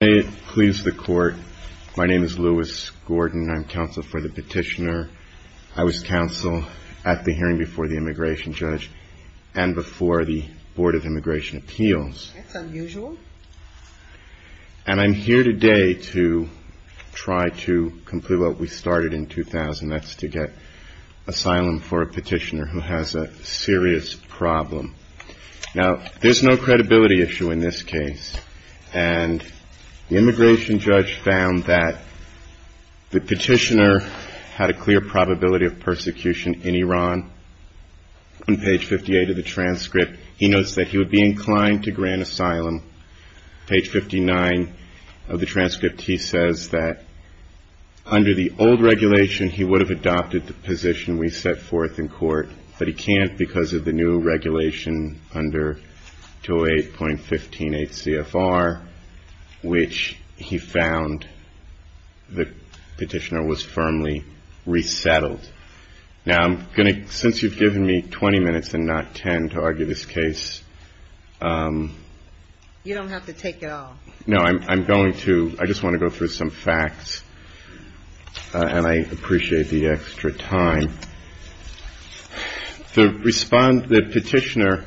May it please the court, my name is Lewis Gordon, I'm counsel for the petitioner. I was counsel at the hearing before the immigration judge and before the Board of Immigration Appeals. That's unusual. And I'm here today to try to complete what we started in 2000, that's to get asylum for a petitioner who has a serious problem. Now, there's no credibility issue in this case. And the immigration judge found that the petitioner had a clear probability of persecution in Iran. On page 58 of the transcript, he notes that he would be inclined to grant asylum. Page 59 of the transcript, he says that under the old regulation, he would have adopted the position we set forth in court, but he can't because of the new regulation under 208.158 CFR, which he found the petitioner was firmly resettled. Now, I'm going to, since you've given me 20 minutes and not 10 to argue this case. You don't have to take it all. No, I'm going to. I just want to go through some facts and I appreciate the extra time. The petitioner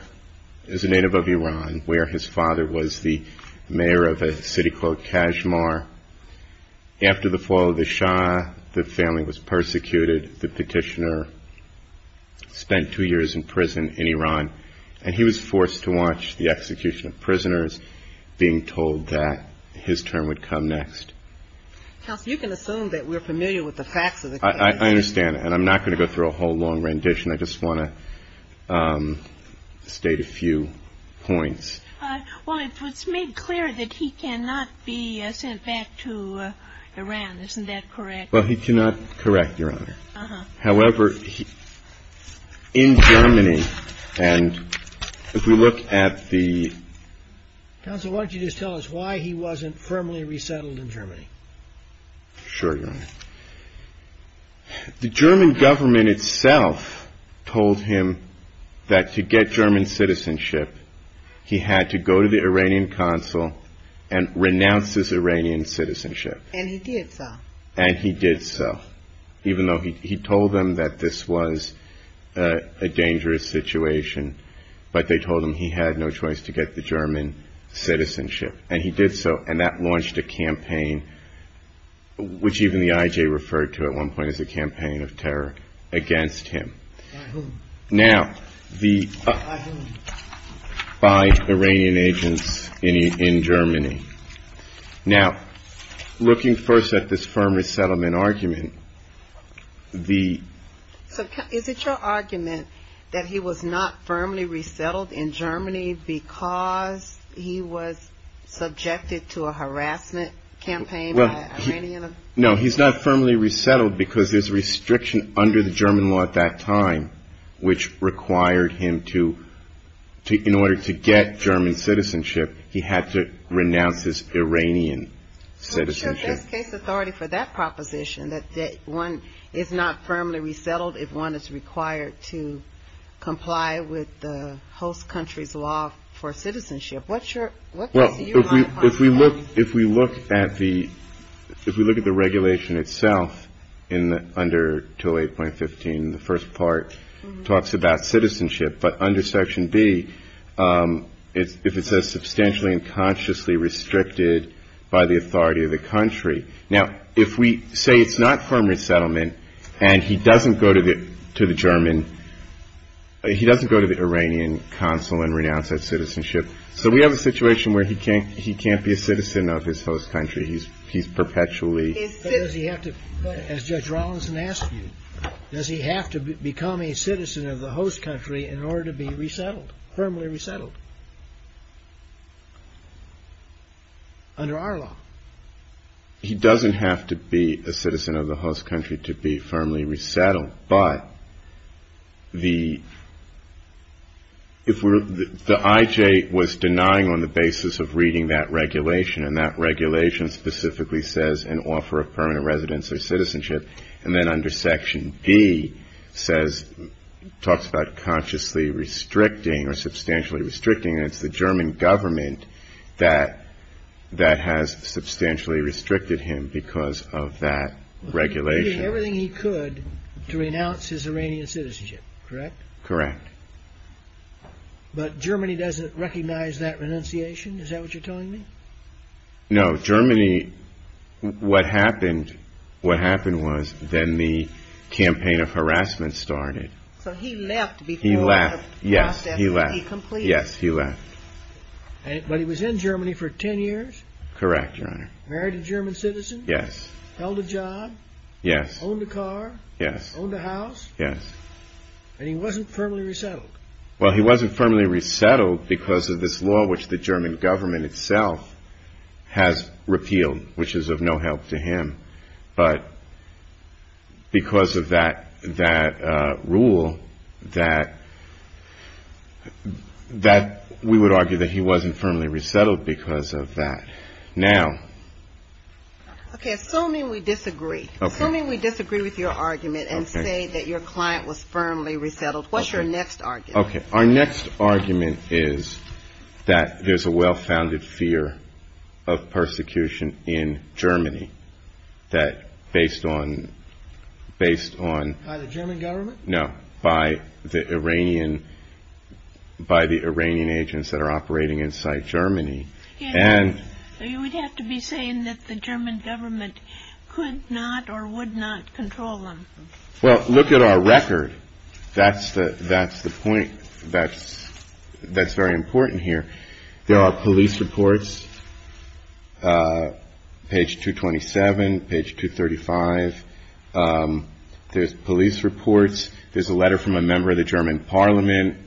is a native of Iran where his father was the mayor of a city called Kashmar. After the fall of the Shah, the family was persecuted. The petitioner spent two years in prison in Iran and he was forced to watch the execution of prisoners, being told that his turn would come next. Counsel, you can assume that we're familiar with the facts of the case. I understand. And I'm not going to go through a whole long rendition. I just want to state a few points. Well, it was made clear that he cannot be sent back to Iran. Isn't that correct? Well, he cannot correct, Your Honor. However, in Germany, and if we look at the... Counsel, why don't you just tell us why he wasn't firmly resettled in Germany? Sure, Your Honor. The German government itself told him that to get German citizenship, he had to go to the Iranian consul and renounce his Iranian citizenship. And he did so. And he did so, even though he told them that this was a dangerous situation, but they told him he had no choice to get the German citizenship. And he did so, and that launched a campaign, which even the IJ referred to at one point as a campaign of terror against him. By whom? By Iranian agents in Germany. Now, looking first at this firm resettlement argument, the... So, is it your argument that he was not firmly resettled in Germany because he was subjected to a harassment campaign by an Iranian? No, he's not firmly resettled because there's a restriction under the German law at that time which required him to, in order to get German citizenship, he had to renounce his Iranian citizenship. So, what's your best case authority for that proposition, that one is not firmly resettled if one is required to comply with the host country's law for citizenship? What's your... If we look at the regulation itself under 208.15, the first part talks about citizenship, but under section B, if it says substantially and consciously restricted by the authority of the country. Now, if we say it's not firmly resettlement, and he doesn't go to the German, he doesn't go to the Iranian consul and renounce that citizenship. So, we have a situation where he can't be a citizen of his host country. He's perpetually... But does he have to, as Judge Rawlinson asked you, does he have to become a citizen of the host country in order to be resettled, firmly resettled, under our law? He doesn't have to be a citizen of the host country to be firmly resettled, but the... If we're... The IJ was denying on the basis of reading that regulation, and that regulation specifically says an offer of permanent residence or citizenship, and then under section B says, talks about consciously restricting or substantially restricting, and it's the German government that has substantially restricted him because of that regulation. He was doing everything he could to renounce his Iranian citizenship, correct? Correct. But Germany doesn't recognize that renunciation, is that what you're telling me? No, Germany... What happened, what happened was then the campaign of harassment started. So, he left before the process would be completed? He left, yes, he left. Yes, he left. But he was in Germany for 10 years? Correct, Your Honor. Married a German citizen? Yes. Held a job? Yes. Owned a car? Yes. Owned a house? Yes. And he wasn't firmly resettled? Well, he wasn't firmly resettled because of this law which the German government itself has repealed, which is of no help to him, but because of that rule, that we would argue that he wasn't firmly resettled because of that. Now... Okay, assuming we disagree. Okay. Assuming we disagree with your argument and say that your client was firmly resettled, what's your next argument? Okay, our next argument is that there's a well-founded fear of persecution in Germany that based on... Based on... By the German government? No, by the Iranian agents that are operating inside Germany. So you would have to be saying that the German government could not or would not control them? Well, look at our record. That's the point that's very important here. There are police reports, page 227, page 235. There's police reports. There's a letter from a member of the German parliament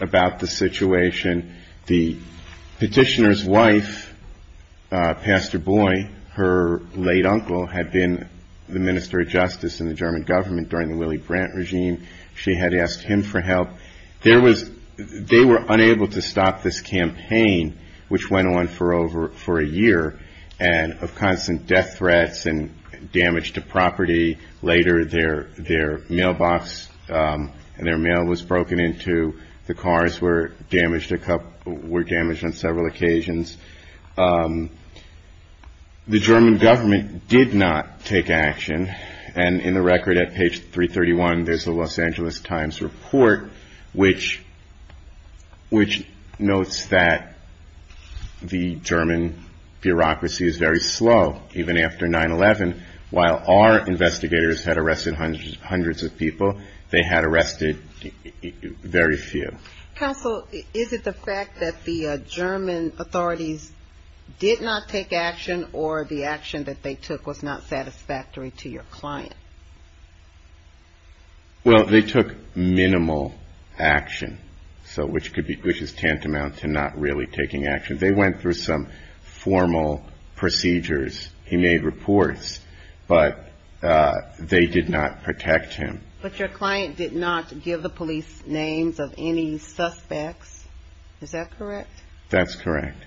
about the situation. The petitioner's wife, Pastor Boy, her late uncle, had been the Minister of Justice in the German government during the Willy Brandt regime. She had asked him for help. There was... They were unable to stop this campaign, which went on for over... For a year, and of constant death threats and damage to property. Later their mailbox and their mail was broken into. The cars were damaged a couple... Were damaged on several occasions. The German government did not take action. And in the record at page 331, there's the Los Angeles Times report, which notes that the German bureaucracy is very slow, even after 9-11, while our investigators had arrested hundreds of people. They had arrested very few. Counsel, is it the fact that the German authorities did not take action, or the action that they took was not satisfactory to your client? Well, they took minimal action, which is tantamount to not really taking action. They went through some formal procedures. He made reports, but they did not protect him. But your client did not give the police names of any suspects, is that correct? That's correct.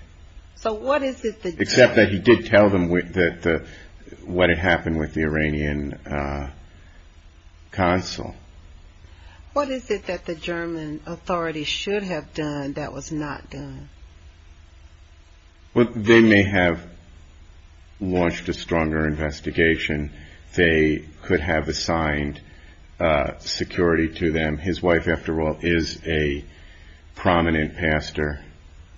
So what is it that... Except that he did tell them what had happened with the Iranian consul. What is it that the German authorities should have done that was not done? Well, they may have launched a stronger investigation. They could have assigned security to them. His wife, after all, is a prominent pastor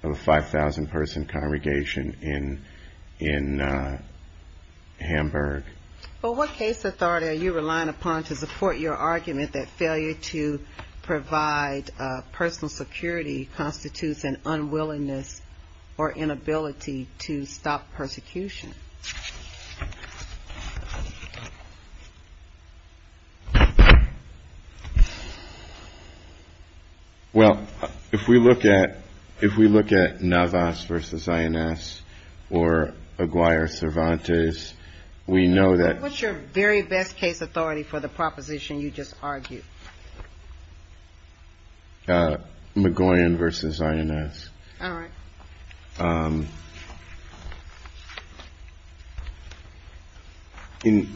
of a 5,000-person congregation in Hamburg. But what case authority are you relying upon to support your argument that failure to provide personal security constitutes an unwillingness or inability to stop persecution? Well, if we look at Navas v. INS or Aguirre-Cervantes, we know that... What's your very best case authority for the proposition you just argued? Magoyan v. INS. All right.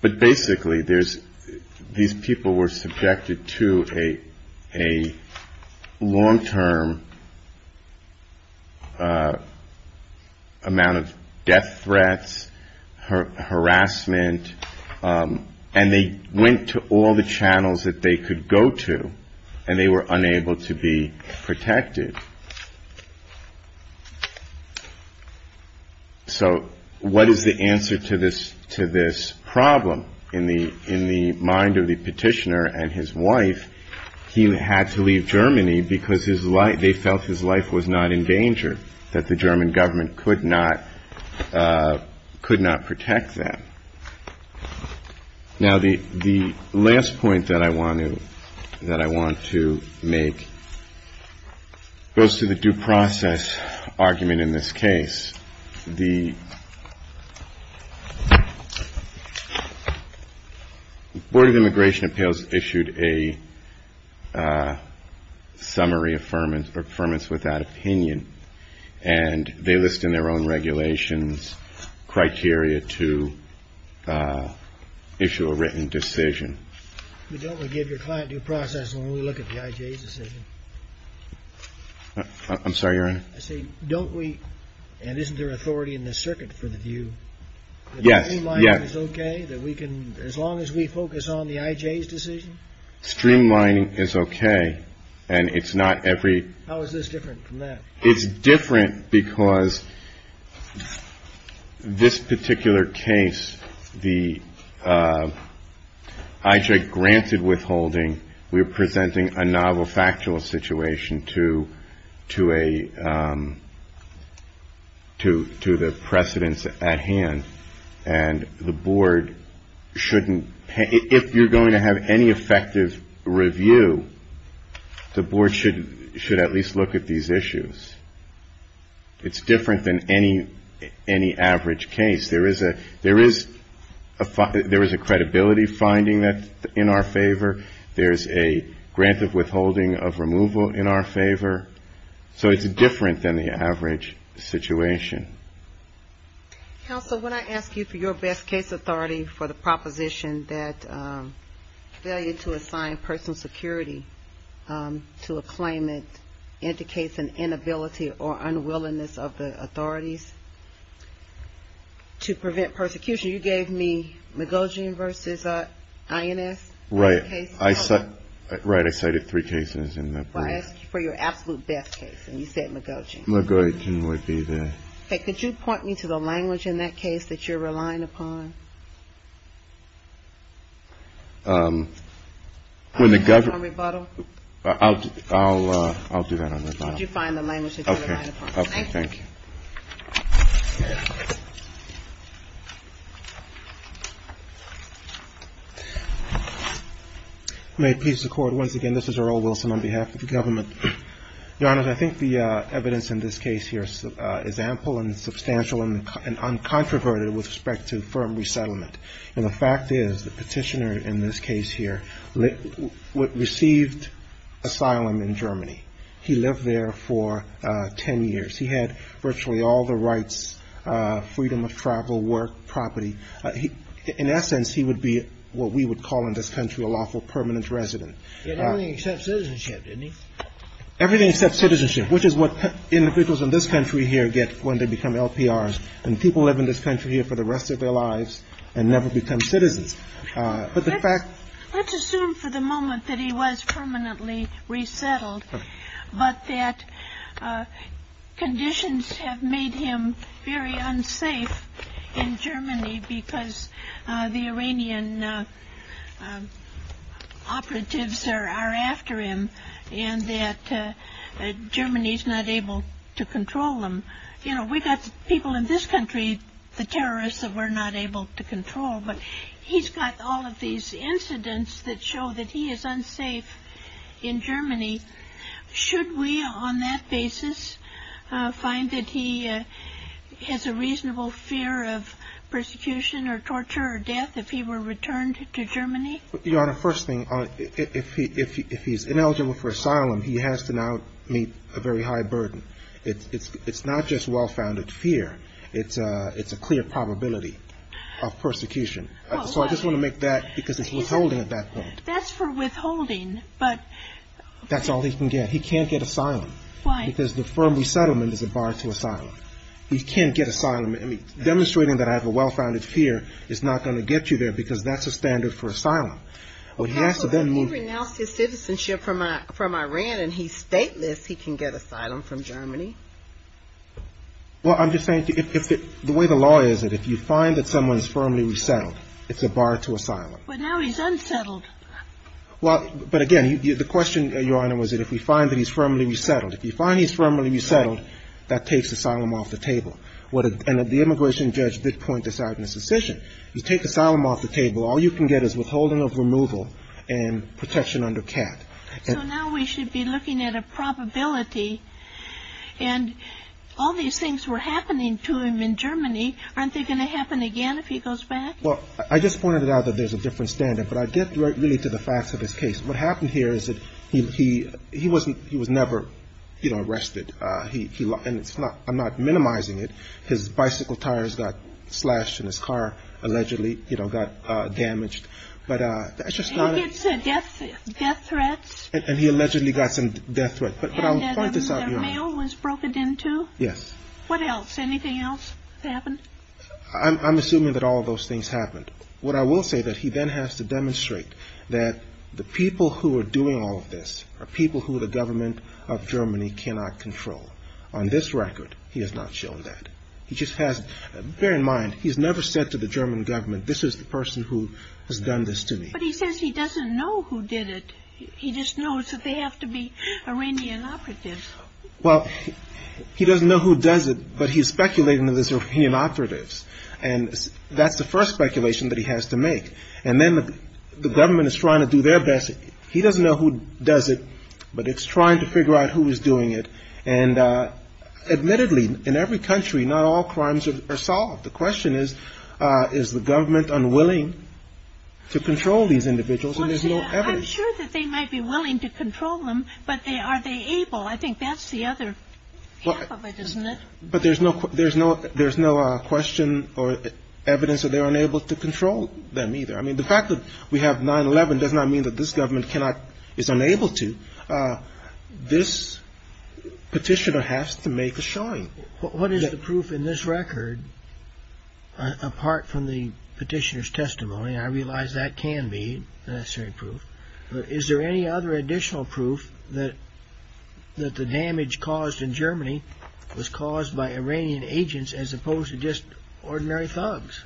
But basically, these people were subjected to a long-term amount of death threats, harassment, and they went to all the channels that they could go to, and they were unable to be protected. So what is the answer to this problem in the mind of the petitioner and his wife? He had to leave Germany because they felt his life was not in danger, that the German government could not protect them. Now the last point that I want to make goes to the due process argument in this case. The Board of Immigration Appeals issued a summary of affirmance without opinion, and they list in their own regulations criteria to issue a written decision. But don't we give your client due process when we look at the IJ's decision? I'm sorry, Your Honor? I say, don't we, and isn't there authority in the circuit for the view that streamlining is okay, that we can, as long as we focus on the IJ's decision? Streamlining is okay, and it's not every... How is this different from that? It's different because this particular case, the IJ granted withholding, we're presenting a novel factual situation to the precedents at hand, and the board shouldn't... If you're going to have any effective review, the board should at least look at these issues. It's different than any average case. There is a credibility finding in our favor. There's a grant of withholding of removal in our favor. So it's different than the average situation. Counsel, when I ask you for your best case authority for the proposition that failure to assign personal security to a claimant indicates an inability or unwillingness of the authorities to prevent persecution, you gave me Magogian versus INS. Right, I cited three cases in that brief. I asked you for your absolute best case, and you said Magogian. Magogian would be the... Could you point me to the language in that case that you're relying upon? When the government... I'll do that on rebuttal. Could you find the language that you're relying upon? Okay, thank you. May it please the court, once again, this is Earl Wilson on behalf of the government. Your Honor, I think the evidence in this case here is ample and substantial and uncontroverted with respect to firm resettlement. And the fact is the petitioner in this case here received asylum in Germany. He lived there for 10 years. He had virtually all the rights, freedom of travel, work, property. In essence, he would be what we would call in this country a lawful permanent resident. He had everything except citizenship, didn't he? Everything except citizenship, which is what individuals in this country here get when they become LPRs. And people live in this country here for the rest of their lives and never become citizens. But the fact... Let's assume for the moment that he was permanently resettled, but that conditions have made him very unsafe in Germany because the Iranian operatives are after him and that Germany is not able to control them. You know, we've got people in this country, the terrorists, that we're not able to control. But he's got all of these incidents that show that he is unsafe in Germany. Should we, on that basis, find that he has a reasonable fear of persecution or torture or death if he were returned to Germany? Your Honor, first thing, if he's ineligible for asylum, he has to now meet a very high burden. It's not just well-founded fear. It's a clear probability of persecution. So I just want to make that, because it's withholding at that point. That's for withholding, but... That's all he can get. He can't get asylum. Why? Because the firm resettlement is a bar to asylum. He can't get asylum. Demonstrating that I have a well-founded fear is not going to get you there because that's the standard for asylum. Counsel, if he renounced his citizenship from Iran and he's stateless, he can get asylum from Germany. Well, I'm just saying, the way the law is, if you find that someone is firmly resettled, it's a bar to asylum. But now he's unsettled. Well, but again, the question, Your Honor, was that if we find that he's firmly resettled, if you find he's firmly resettled, that takes asylum off the table. And the immigration judge did point this out in his decision. You take asylum off the table, all you can get is withholding of removal and protection under CAT. So now we should be looking at a probability and all these things were happening to him in Germany. Aren't they going to happen again if he goes back? Well, I just pointed out that there's a different standard. But I get really to the facts of his case. What happened here is that he was never arrested. And I'm not minimizing it. His bicycle tires got slashed and his car allegedly got damaged. But it's just not a... Death threats? And he allegedly got some death threats. And the mail was broken into? Yes. What else? Anything else that happened? I'm assuming that all of those things happened. What I will say that he then has to demonstrate that the people who are doing all of this are people who the government of Germany cannot control. On this record, he has not shown that. He just has... Bear in mind, he's never said to the German government, this is the person who has done this to me. But he says he doesn't know who did it. He just knows that they have to be Iranian operatives. Well, he doesn't know who does it, but he's speculating that it's Iranian operatives. And that's the first speculation that he has to make. And then the government is trying to do their best. He doesn't know who does it, but it's trying to figure out who is doing it. And admittedly, in every country, not all crimes are solved. The question is, is the government unwilling to control these individuals? I'm sure that they might be willing to control them, but are they able? I think that's the other half of it, isn't it? But there's no question or evidence that they're unable to control them either. I mean, the fact that we have 9-11 does not mean that this government is unable to. This petitioner has to make a showing. What is the proof in this record, apart from the petitioner's testimony? I realize that can be necessary proof. Is there any other additional proof that the damage caused in Germany was caused by Iranian agents as opposed to just ordinary thugs?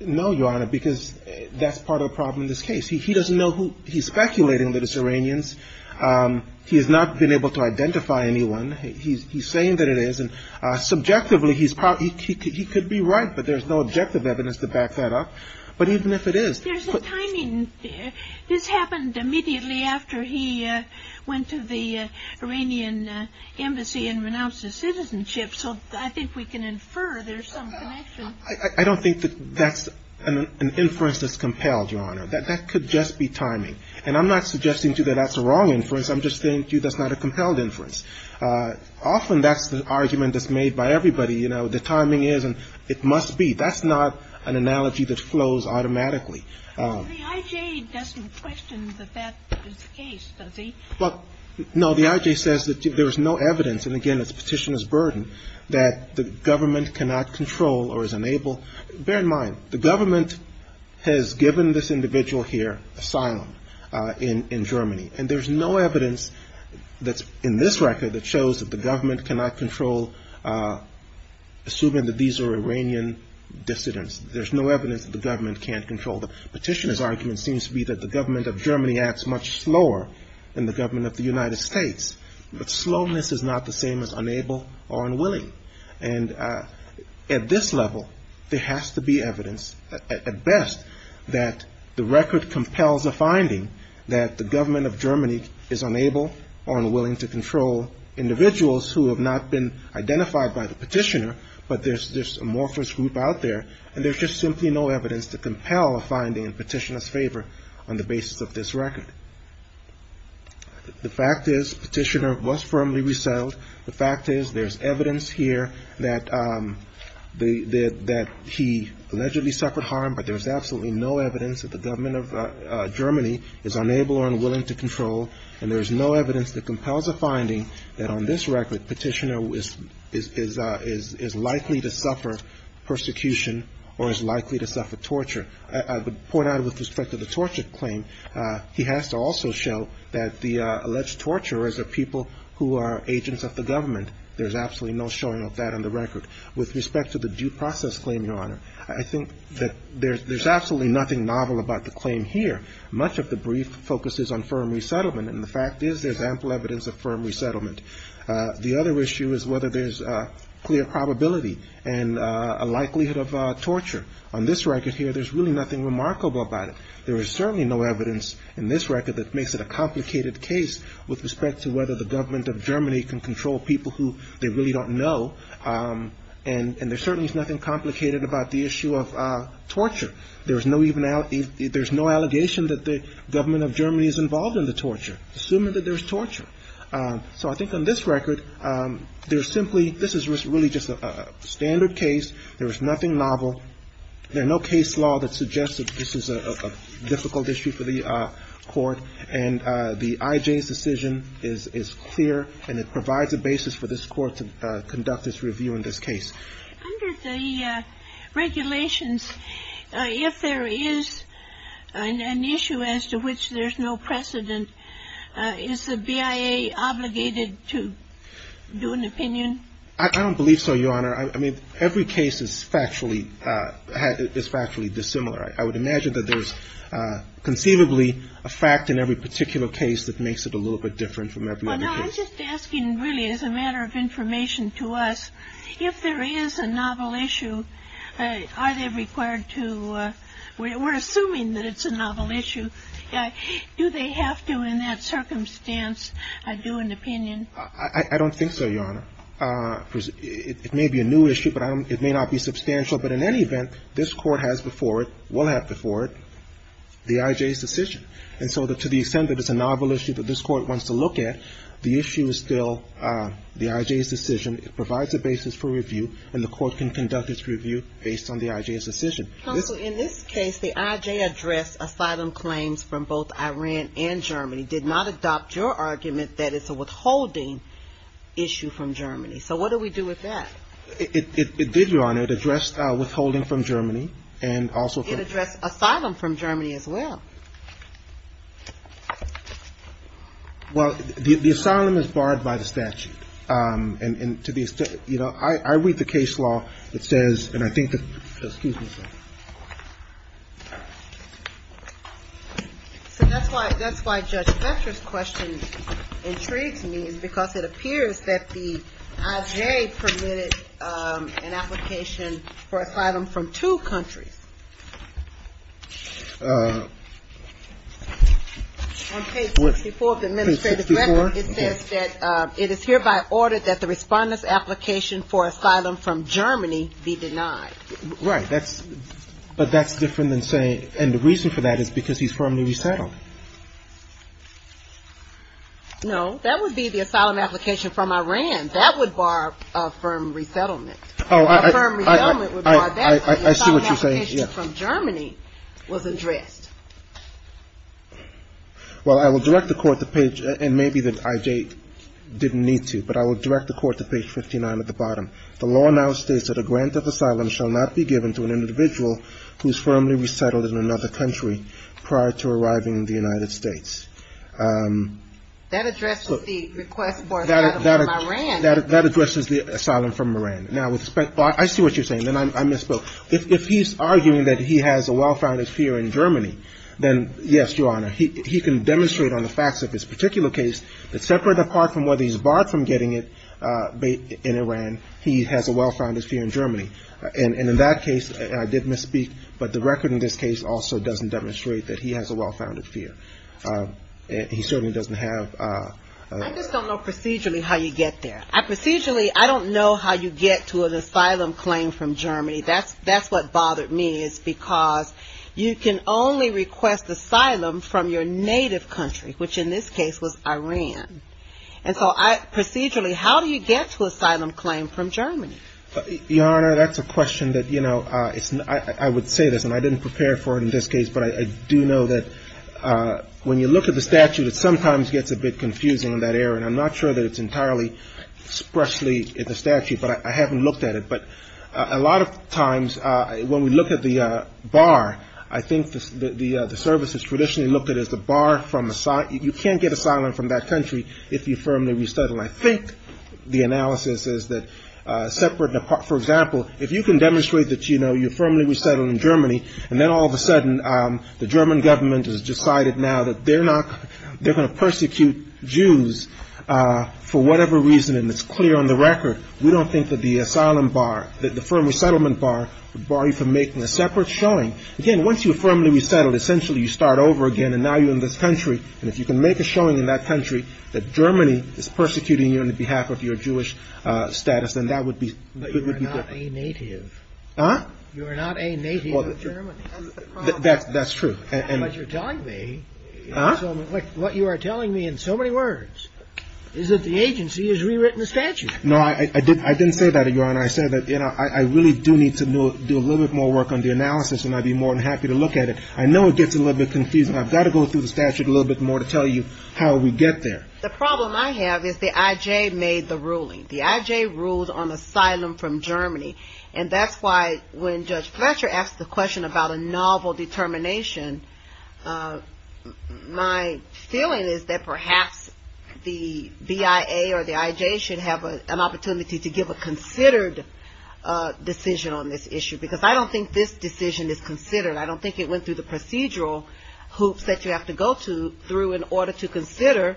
No, Your Honor, because that's part of the problem in this case. He doesn't know who. He's speculating that it's Iranians. He has not been able to identify anyone. He's saying that it is. Subjectively, he could be right, but there's no objective evidence to back that up. But even if it is... There's a timing. This happened immediately after he went to the Iranian embassy and renounced his citizenship. So I think we can infer there's some connection. I don't think that's an inference that's compelled, Your Honor. That could just be timing. And I'm not suggesting to you that that's a wrong inference. I'm just saying to you that's not a compelled inference. Often that's the argument that's made by everybody. You know, the timing is, and it must be. That's not an analogy that flows automatically. Well, the IJ doesn't question that that is the case, does he? Well, no. The IJ says that there's no evidence, and again, it's petitioner's burden, that the government cannot control or is unable... Bear in mind, the government has given this individual here asylum in Germany. And there's no evidence that's in this record that shows that the government cannot control assuming that these are Iranian dissidents. There's no evidence that the government can't control. The petitioner's argument seems to be that the government of Germany acts much slower than the government of the United States. But slowness is not the same as unable or unwilling. And at this level, there has to be evidence, at best, that the record compels a finding that the government of Germany is unable or unwilling to control individuals who have not been identified by the petitioner, but there's this amorphous group out there, and there's just simply no evidence to compel a finding in petitioner's favor on the basis of this record. The fact is, petitioner was firmly resettled. The fact is, there's evidence here that he allegedly suffered harm, but there's absolutely no evidence that the government of Germany is unable or unwilling to control. And there's no evidence that compels a finding that on this record, petitioner is likely to suffer persecution or is likely to suffer torture. I would point out with respect to the torture claim, he has to also show that the alleged torturers are people who are agents of the government. There's absolutely no showing of that on the record. With respect to the due process claim, Your Honor, I think that there's absolutely nothing novel about the claim here. Much of the brief focuses on firm resettlement, and the fact is, there's ample evidence of firm resettlement. The other issue is whether there's clear probability and a likelihood of torture. On this record here, there's really nothing remarkable about it. There is certainly no evidence in this record that makes it a complicated case with respect to whether the government of Germany can control people who they really don't know. And there's certainly nothing complicated about the issue of torture. There's no allegation that the government of Germany is involved in the torture, assuming that there's torture. So I think on this record, there's simply this is really just a standard case. There is nothing novel. There's no case law that suggests that this is a difficult issue for the Court. And the IJ's decision is clear, and it provides a basis for this Court to conduct its review on this case. Under the regulations, if there is an issue as to which there's no precedent, is the BIA obligated to do an opinion? I don't believe so, Your Honor. I mean, every case is factually dissimilar. I would imagine that there's conceivably a fact in every particular case that makes it a little bit different from every other case. I'm just asking really as a matter of information to us, if there is a novel issue, are they required to that it's a novel issue, do they have to in that circumstance do an opinion? I don't think so, Your Honor. It may be a new issue, but it may not be substantial. But in any event, this Court has before it, will have before it, the IJ's decision. And so to the extent that it's a novel issue that this Court wants to look at, the issue is still the IJ's decision. It provides a basis for review, and the Court can conduct its review based on the IJ's decision. Counsel, in this case, the IJ addressed asylum claims from both Iran and Germany. Did not adopt your argument that it's a withholding issue from Germany. So what do we do with that? It did, Your Honor. It addressed withholding from Germany and also from It addressed asylum from Germany as well. Well, the asylum is barred by the statute. And to the extent you know, I read the case law that says and I think that excuse me a second. So that's why that's why Judge Fetcher's question intrigues me because it appears that the IJ permitted an application for asylum from two countries. On page 64 of the administrative record it says that it is hereby ordered that the respondent's application for asylum from Germany be denied. Right, that's but that's different than saying and the reason for that is because he's firmly resettled. No, that would be the asylum application from Iran. That would bar a firm resettlement. A firm resettlement would bar that but the asylum application from Germany was addressed. Well, I will direct the court to page and maybe that IJ didn't need to but I will direct the court to page 59 at the bottom. The law now states that a grant of asylum shall not be given to an individual who is firmly resettled in another country prior to arriving in the United States. That addresses the request for asylum from Iran. That addresses the asylum from Iran. Now, I see what you're saying and I misspoke. If he's arguing that he has a well-founded fear in Germany then yes, Your Honor, he can demonstrate on the facts of this particular case that separate apart from whether he's barred from getting it in Iran he has a well-founded fear in Germany and in that case I did misspeak but the record in this case also doesn't demonstrate that he has a well-founded fear. He certainly doesn't have I just don't know procedurally how you get there. Procedurally, I don't know how you get to an asylum claim from Germany. That's what bothered me is because you can only request asylum from your native country which in this case was Iran. And so, procedurally, how do you get to asylum claim from Germany? Your Honor, that's a question that you know I would say this and I didn't prepare for it in this case but I do know that when you look at the statute it sometimes gets a bit confusing in that area and I'm not sure that it's entirely expressly in the statute but I haven't looked at it but a lot of times when we look at the bar I think the service has traditionally looked at as the bar from the side you can't get asylum from that country if you firmly restudy and I think the analysis is that separate for example if you can demonstrate that you know you firmly resettled in Germany and then all of a sudden the German government has decided now that they're not they're going to persecute Jews for whatever reason and it's clear on the record we don't think that the asylum bar the firm resettlement bar would bar you from making a separate showing again once you firmly resettled essentially you start over again and now you're in this country and if you can make a separate showing in that country that Germany is persecuting you on behalf of your Jewish status then that would be different but you are not a native huh you are not a native of Germany that's true but you're telling me huh what you are telling me in so many words is that the agency has rewritten the statute no I didn't I didn't say that your honor I said that I really do need to do a little bit more work on the analysis and I'd be more than happy to look at it I know it gets a little bit confusing I've got to go through the statute a little bit more to tell you how we get there the problem I have is the IJ made the ruling the IJ ruled on asylum from Germany and that's why when Judge Fletcher asked the question about a novel determination my feeling is that perhaps the BIA or the IJ should have an opportunity to give a considered decision on this issue because I don't think this decision is considered I don't think it went through the procedural hoops that you have to go through in order to consider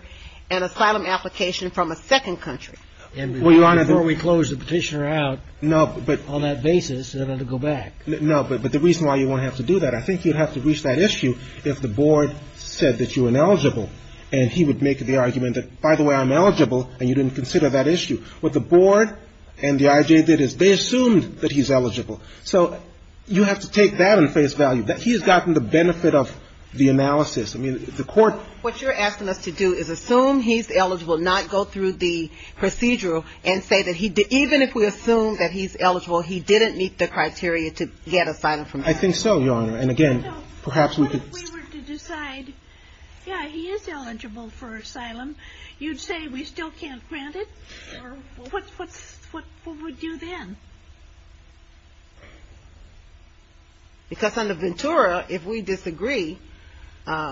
an asylum application from a second country well your honor before we close the petitioner out no on that basis they'll have to go back no but the reason why you won't have to do that I think you'd have to reach that issue if the board said that you're ineligible and he would make the argument that by the way I'm eligible and you didn't consider that issue what the board and the IJ did is they assumed that he's eligible so you have to take that in face value that he has gotten the benefit of the analysis I mean the court what you're asking us to do is assume he's eligible not go through the procedural and say that he even if we assume that he's eligible he didn't meet the criteria to get asylum from Germany I think so your honor and again perhaps we could what if we were to decide yeah he is eligible for asylum you'd say we still can't grant it what would you then because on the Ventura if we disagree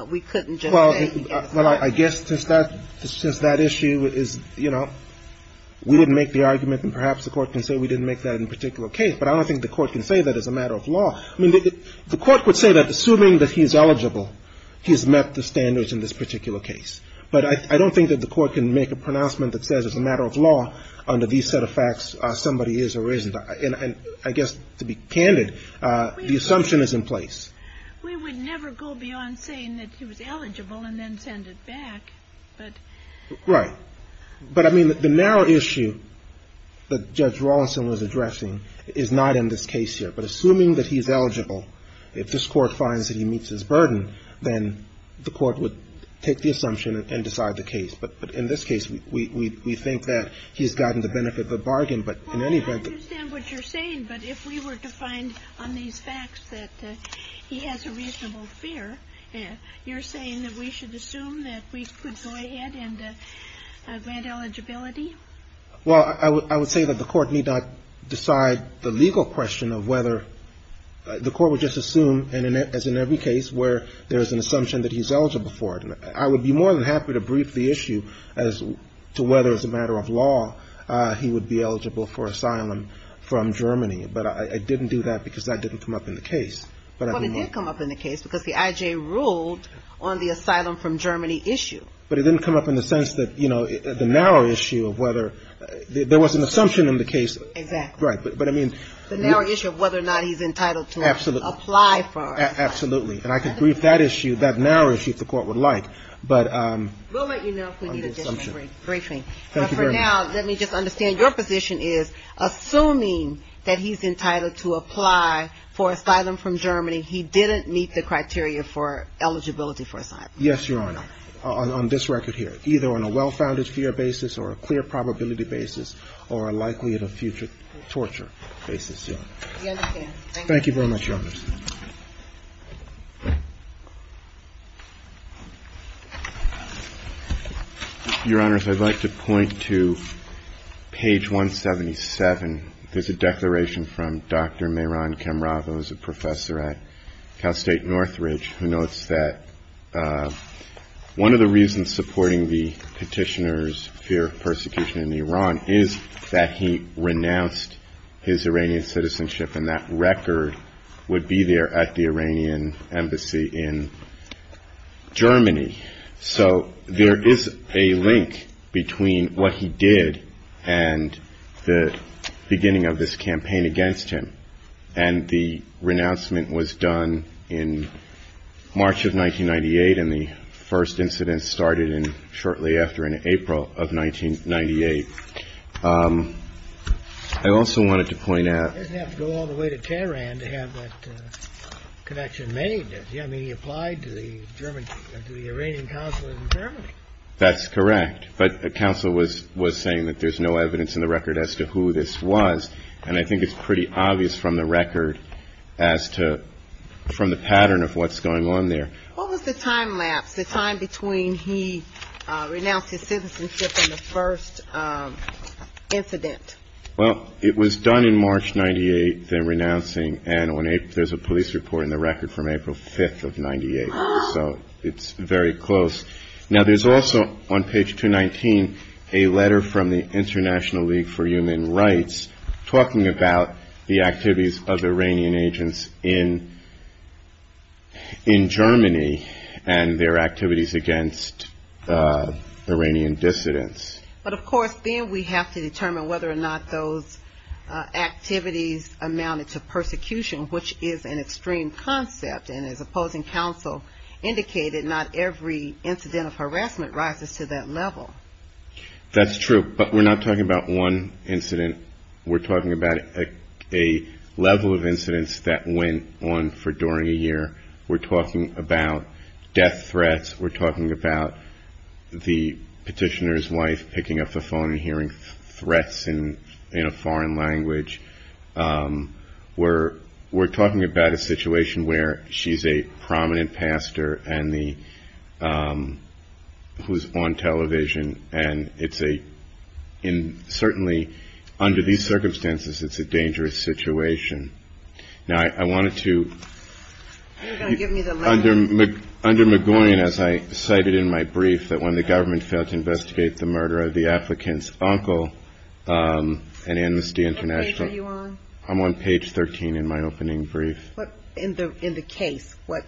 we couldn't just say well I guess since that issue is you know we didn't make the argument and perhaps we didn't make that in particular case but I don't think the court can say that as a matter of law I mean the court would say that the issue is that the issue is that assuming that he's eligible he's met the standards in this particular case but I don't think that the court can make a pronouncement that says as a matter of law under these set of facts somebody is or isn't and I guess to be candid the assumption is in place we would never go beyond saying that he was eligible and then send it back but right but I mean the narrow issue that Judge Rawlinson was addressing is not in this case here but assuming that he's eligible if this court finds that he meets his burden then the court would take the assumption and decide the case but in this case we think that he's gotten the benefit of the bargain but in any event Well I understand what you're saying but if we were to find on these facts that he has a reasonable fear you're saying that we should assume that we could go ahead and grant eligibility? Well I would say that the court need not decide the legal question of whether the court would just assume as in every case where there is an assumption that he's eligible for it I would be more than happy to brief the issue as to whether as a matter of law he would be eligible for asylum from Germany but I didn't do that because that didn't come up in the case Well it did come up in the case because the IJ ruled on the asylum from Germany issue but it didn't come up in the sense that you know the narrow issue of whether there was an assumption in the case exactly right but I mean the narrow issue of whether or not he's entitled to apply for absolutely and I could brief that issue that narrow issue if the court would like but we'll let you know if we need a different briefing but for now let me just understand your position is assuming that he's entitled to apply for asylum from Germany he didn't meet the criteria for eligibility for asylum yes your honor on this record here either on a well founded fear basis or a clear probability basis or a likelihood of future torture basis thank you very much your honors your honors I'd like to point to who's a professor at Cal State Northridge who notes that there's a declaration from Dr. Mehran Kemrava who's a professor at Cal State Northridge and one of the reasons supporting the petitioner's fear of persecution in Iran is that he renounced his Iranian citizenship and that record would be there at the Iranian embassy in Germany so there is a link between what he did and the beginning of this campaign against him and the renouncement was done in March of 1998 and the first incident started shortly after in April of 1998 I also wanted to point out he didn't have to go all the way to Tehran to have that connection made I mean he applied to the Iranian council in Germany that's correct but the council was saying that there is no evidence in the record as to who this was and I think it's pretty obvious from the record as to from the pattern of what's going on there what was the time lapse the time between he renounced his citizenship and the first incident well it was done in March 98 the renouncing and there's a police report in the record from April 5th of 98 so it's very close now there's also on page 219 a letter from the international league for human rights talking about the activities of Iranian agents in Germany and their activities against Iranian dissidents but of course then we have to determine whether or not those activities amounted to persecution which is an extreme concept and as opposing counsel indicated not every incident of harassment rises to that level that's true but we're not talking about one incident we're talking about a level of incidents that went on for during a year we're talking about death threats we're talking about the petitioner's wife picking up the phone and hearing threats in a foreign language we're talking about a situation where she's a prominent pastor and who's on television and it's a in certainly under these circumstances it's a dangerous situation now I wanted to under McGowan as I cited in my brief that when the government failed to investigate the murder of the applicant's wife I'm on page 13 in my opening brief what in the case what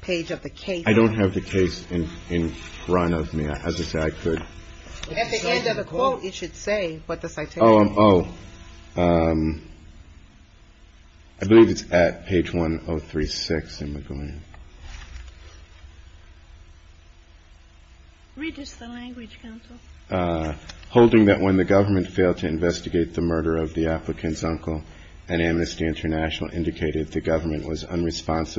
page of the case I don't have the case in front of me at the end of the quote it should say what the citation oh I believe it's at page 1036 in McGowan read just the language counsel holding that when the government failed to investigate the murder of the applicant's uncle an amnesty international indicated the government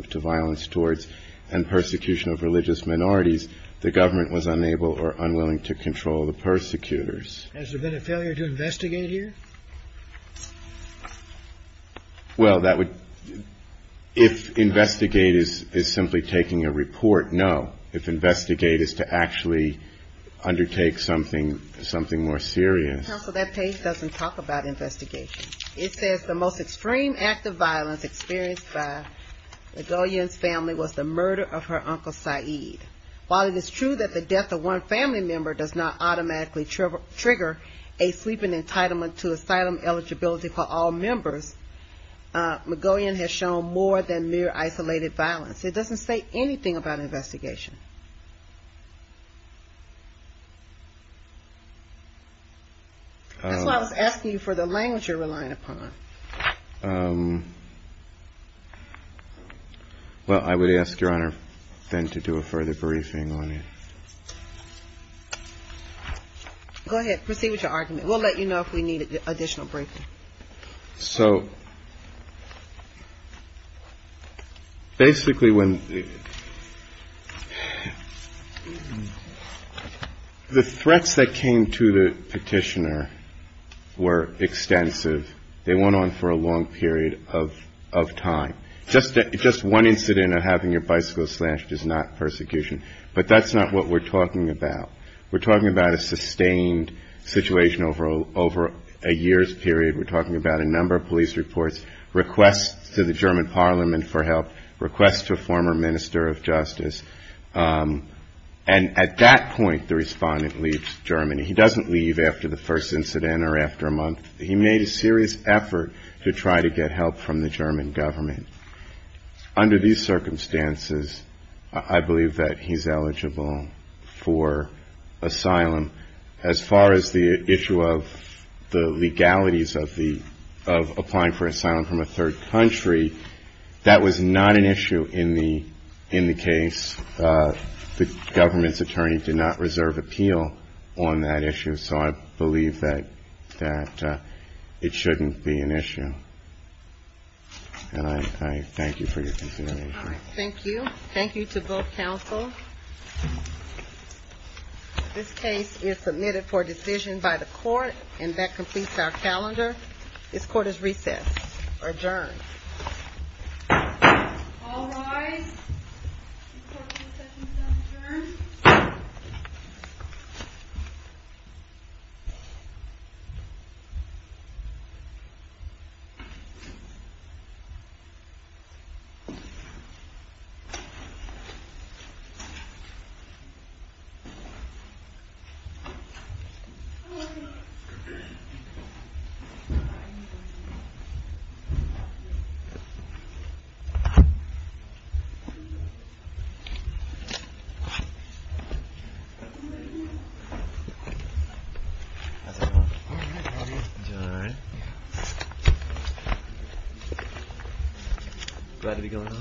to violence towards and persecution of religious minorities the government was unable or unwilling to control the persecutors has there been a failure to investigate is to actually undertake something something more serious that page doesn't talk about investigation it says the most extreme act of violence experienced by family was the murder of her uncle while it is true that the death of one family member does not automatically trigger a sleeping entitlement to asylum eligibility for all members McGowan has shown more than mere isolated violence it doesn't say anything about investigation that's why I was asking you for the language you're relying upon well I would ask your honor then to do a further briefing on it go ahead proceed with your argument we'll let you know if we need additional briefing so basically when the threats that came to the petitioner were extensive they went on for a long period of time just one incident of having your bicycle slashed is not persecution but that's not what we're talking about we're talking about a sustained situation over a years period we're talking about a number of police reports requests to the German parliament for help requests to a former minister of justice and at that point the respondent leaves Germany he doesn't leave after the first incident or after a month he made a serious effort to try to get help from the German government under these circumstances I believe that he's eligible for asylum as far as the issue of the legalities of the of applying for asylum from a third country that was not an issue in the case the government's attorney did not reserve appeal on that issue so I believe that that it shouldn't be an issue and I thank you for your consideration thank you thank you thank you to both counsel this case is submitted for decision by the court and that completes our calendar this court is recessed adjourned all rise the court is recessed adjourned The court is between nine and eleven o'clock eastern time between nine and eleven o'clock eastern time between nine and eleven o'clock eastern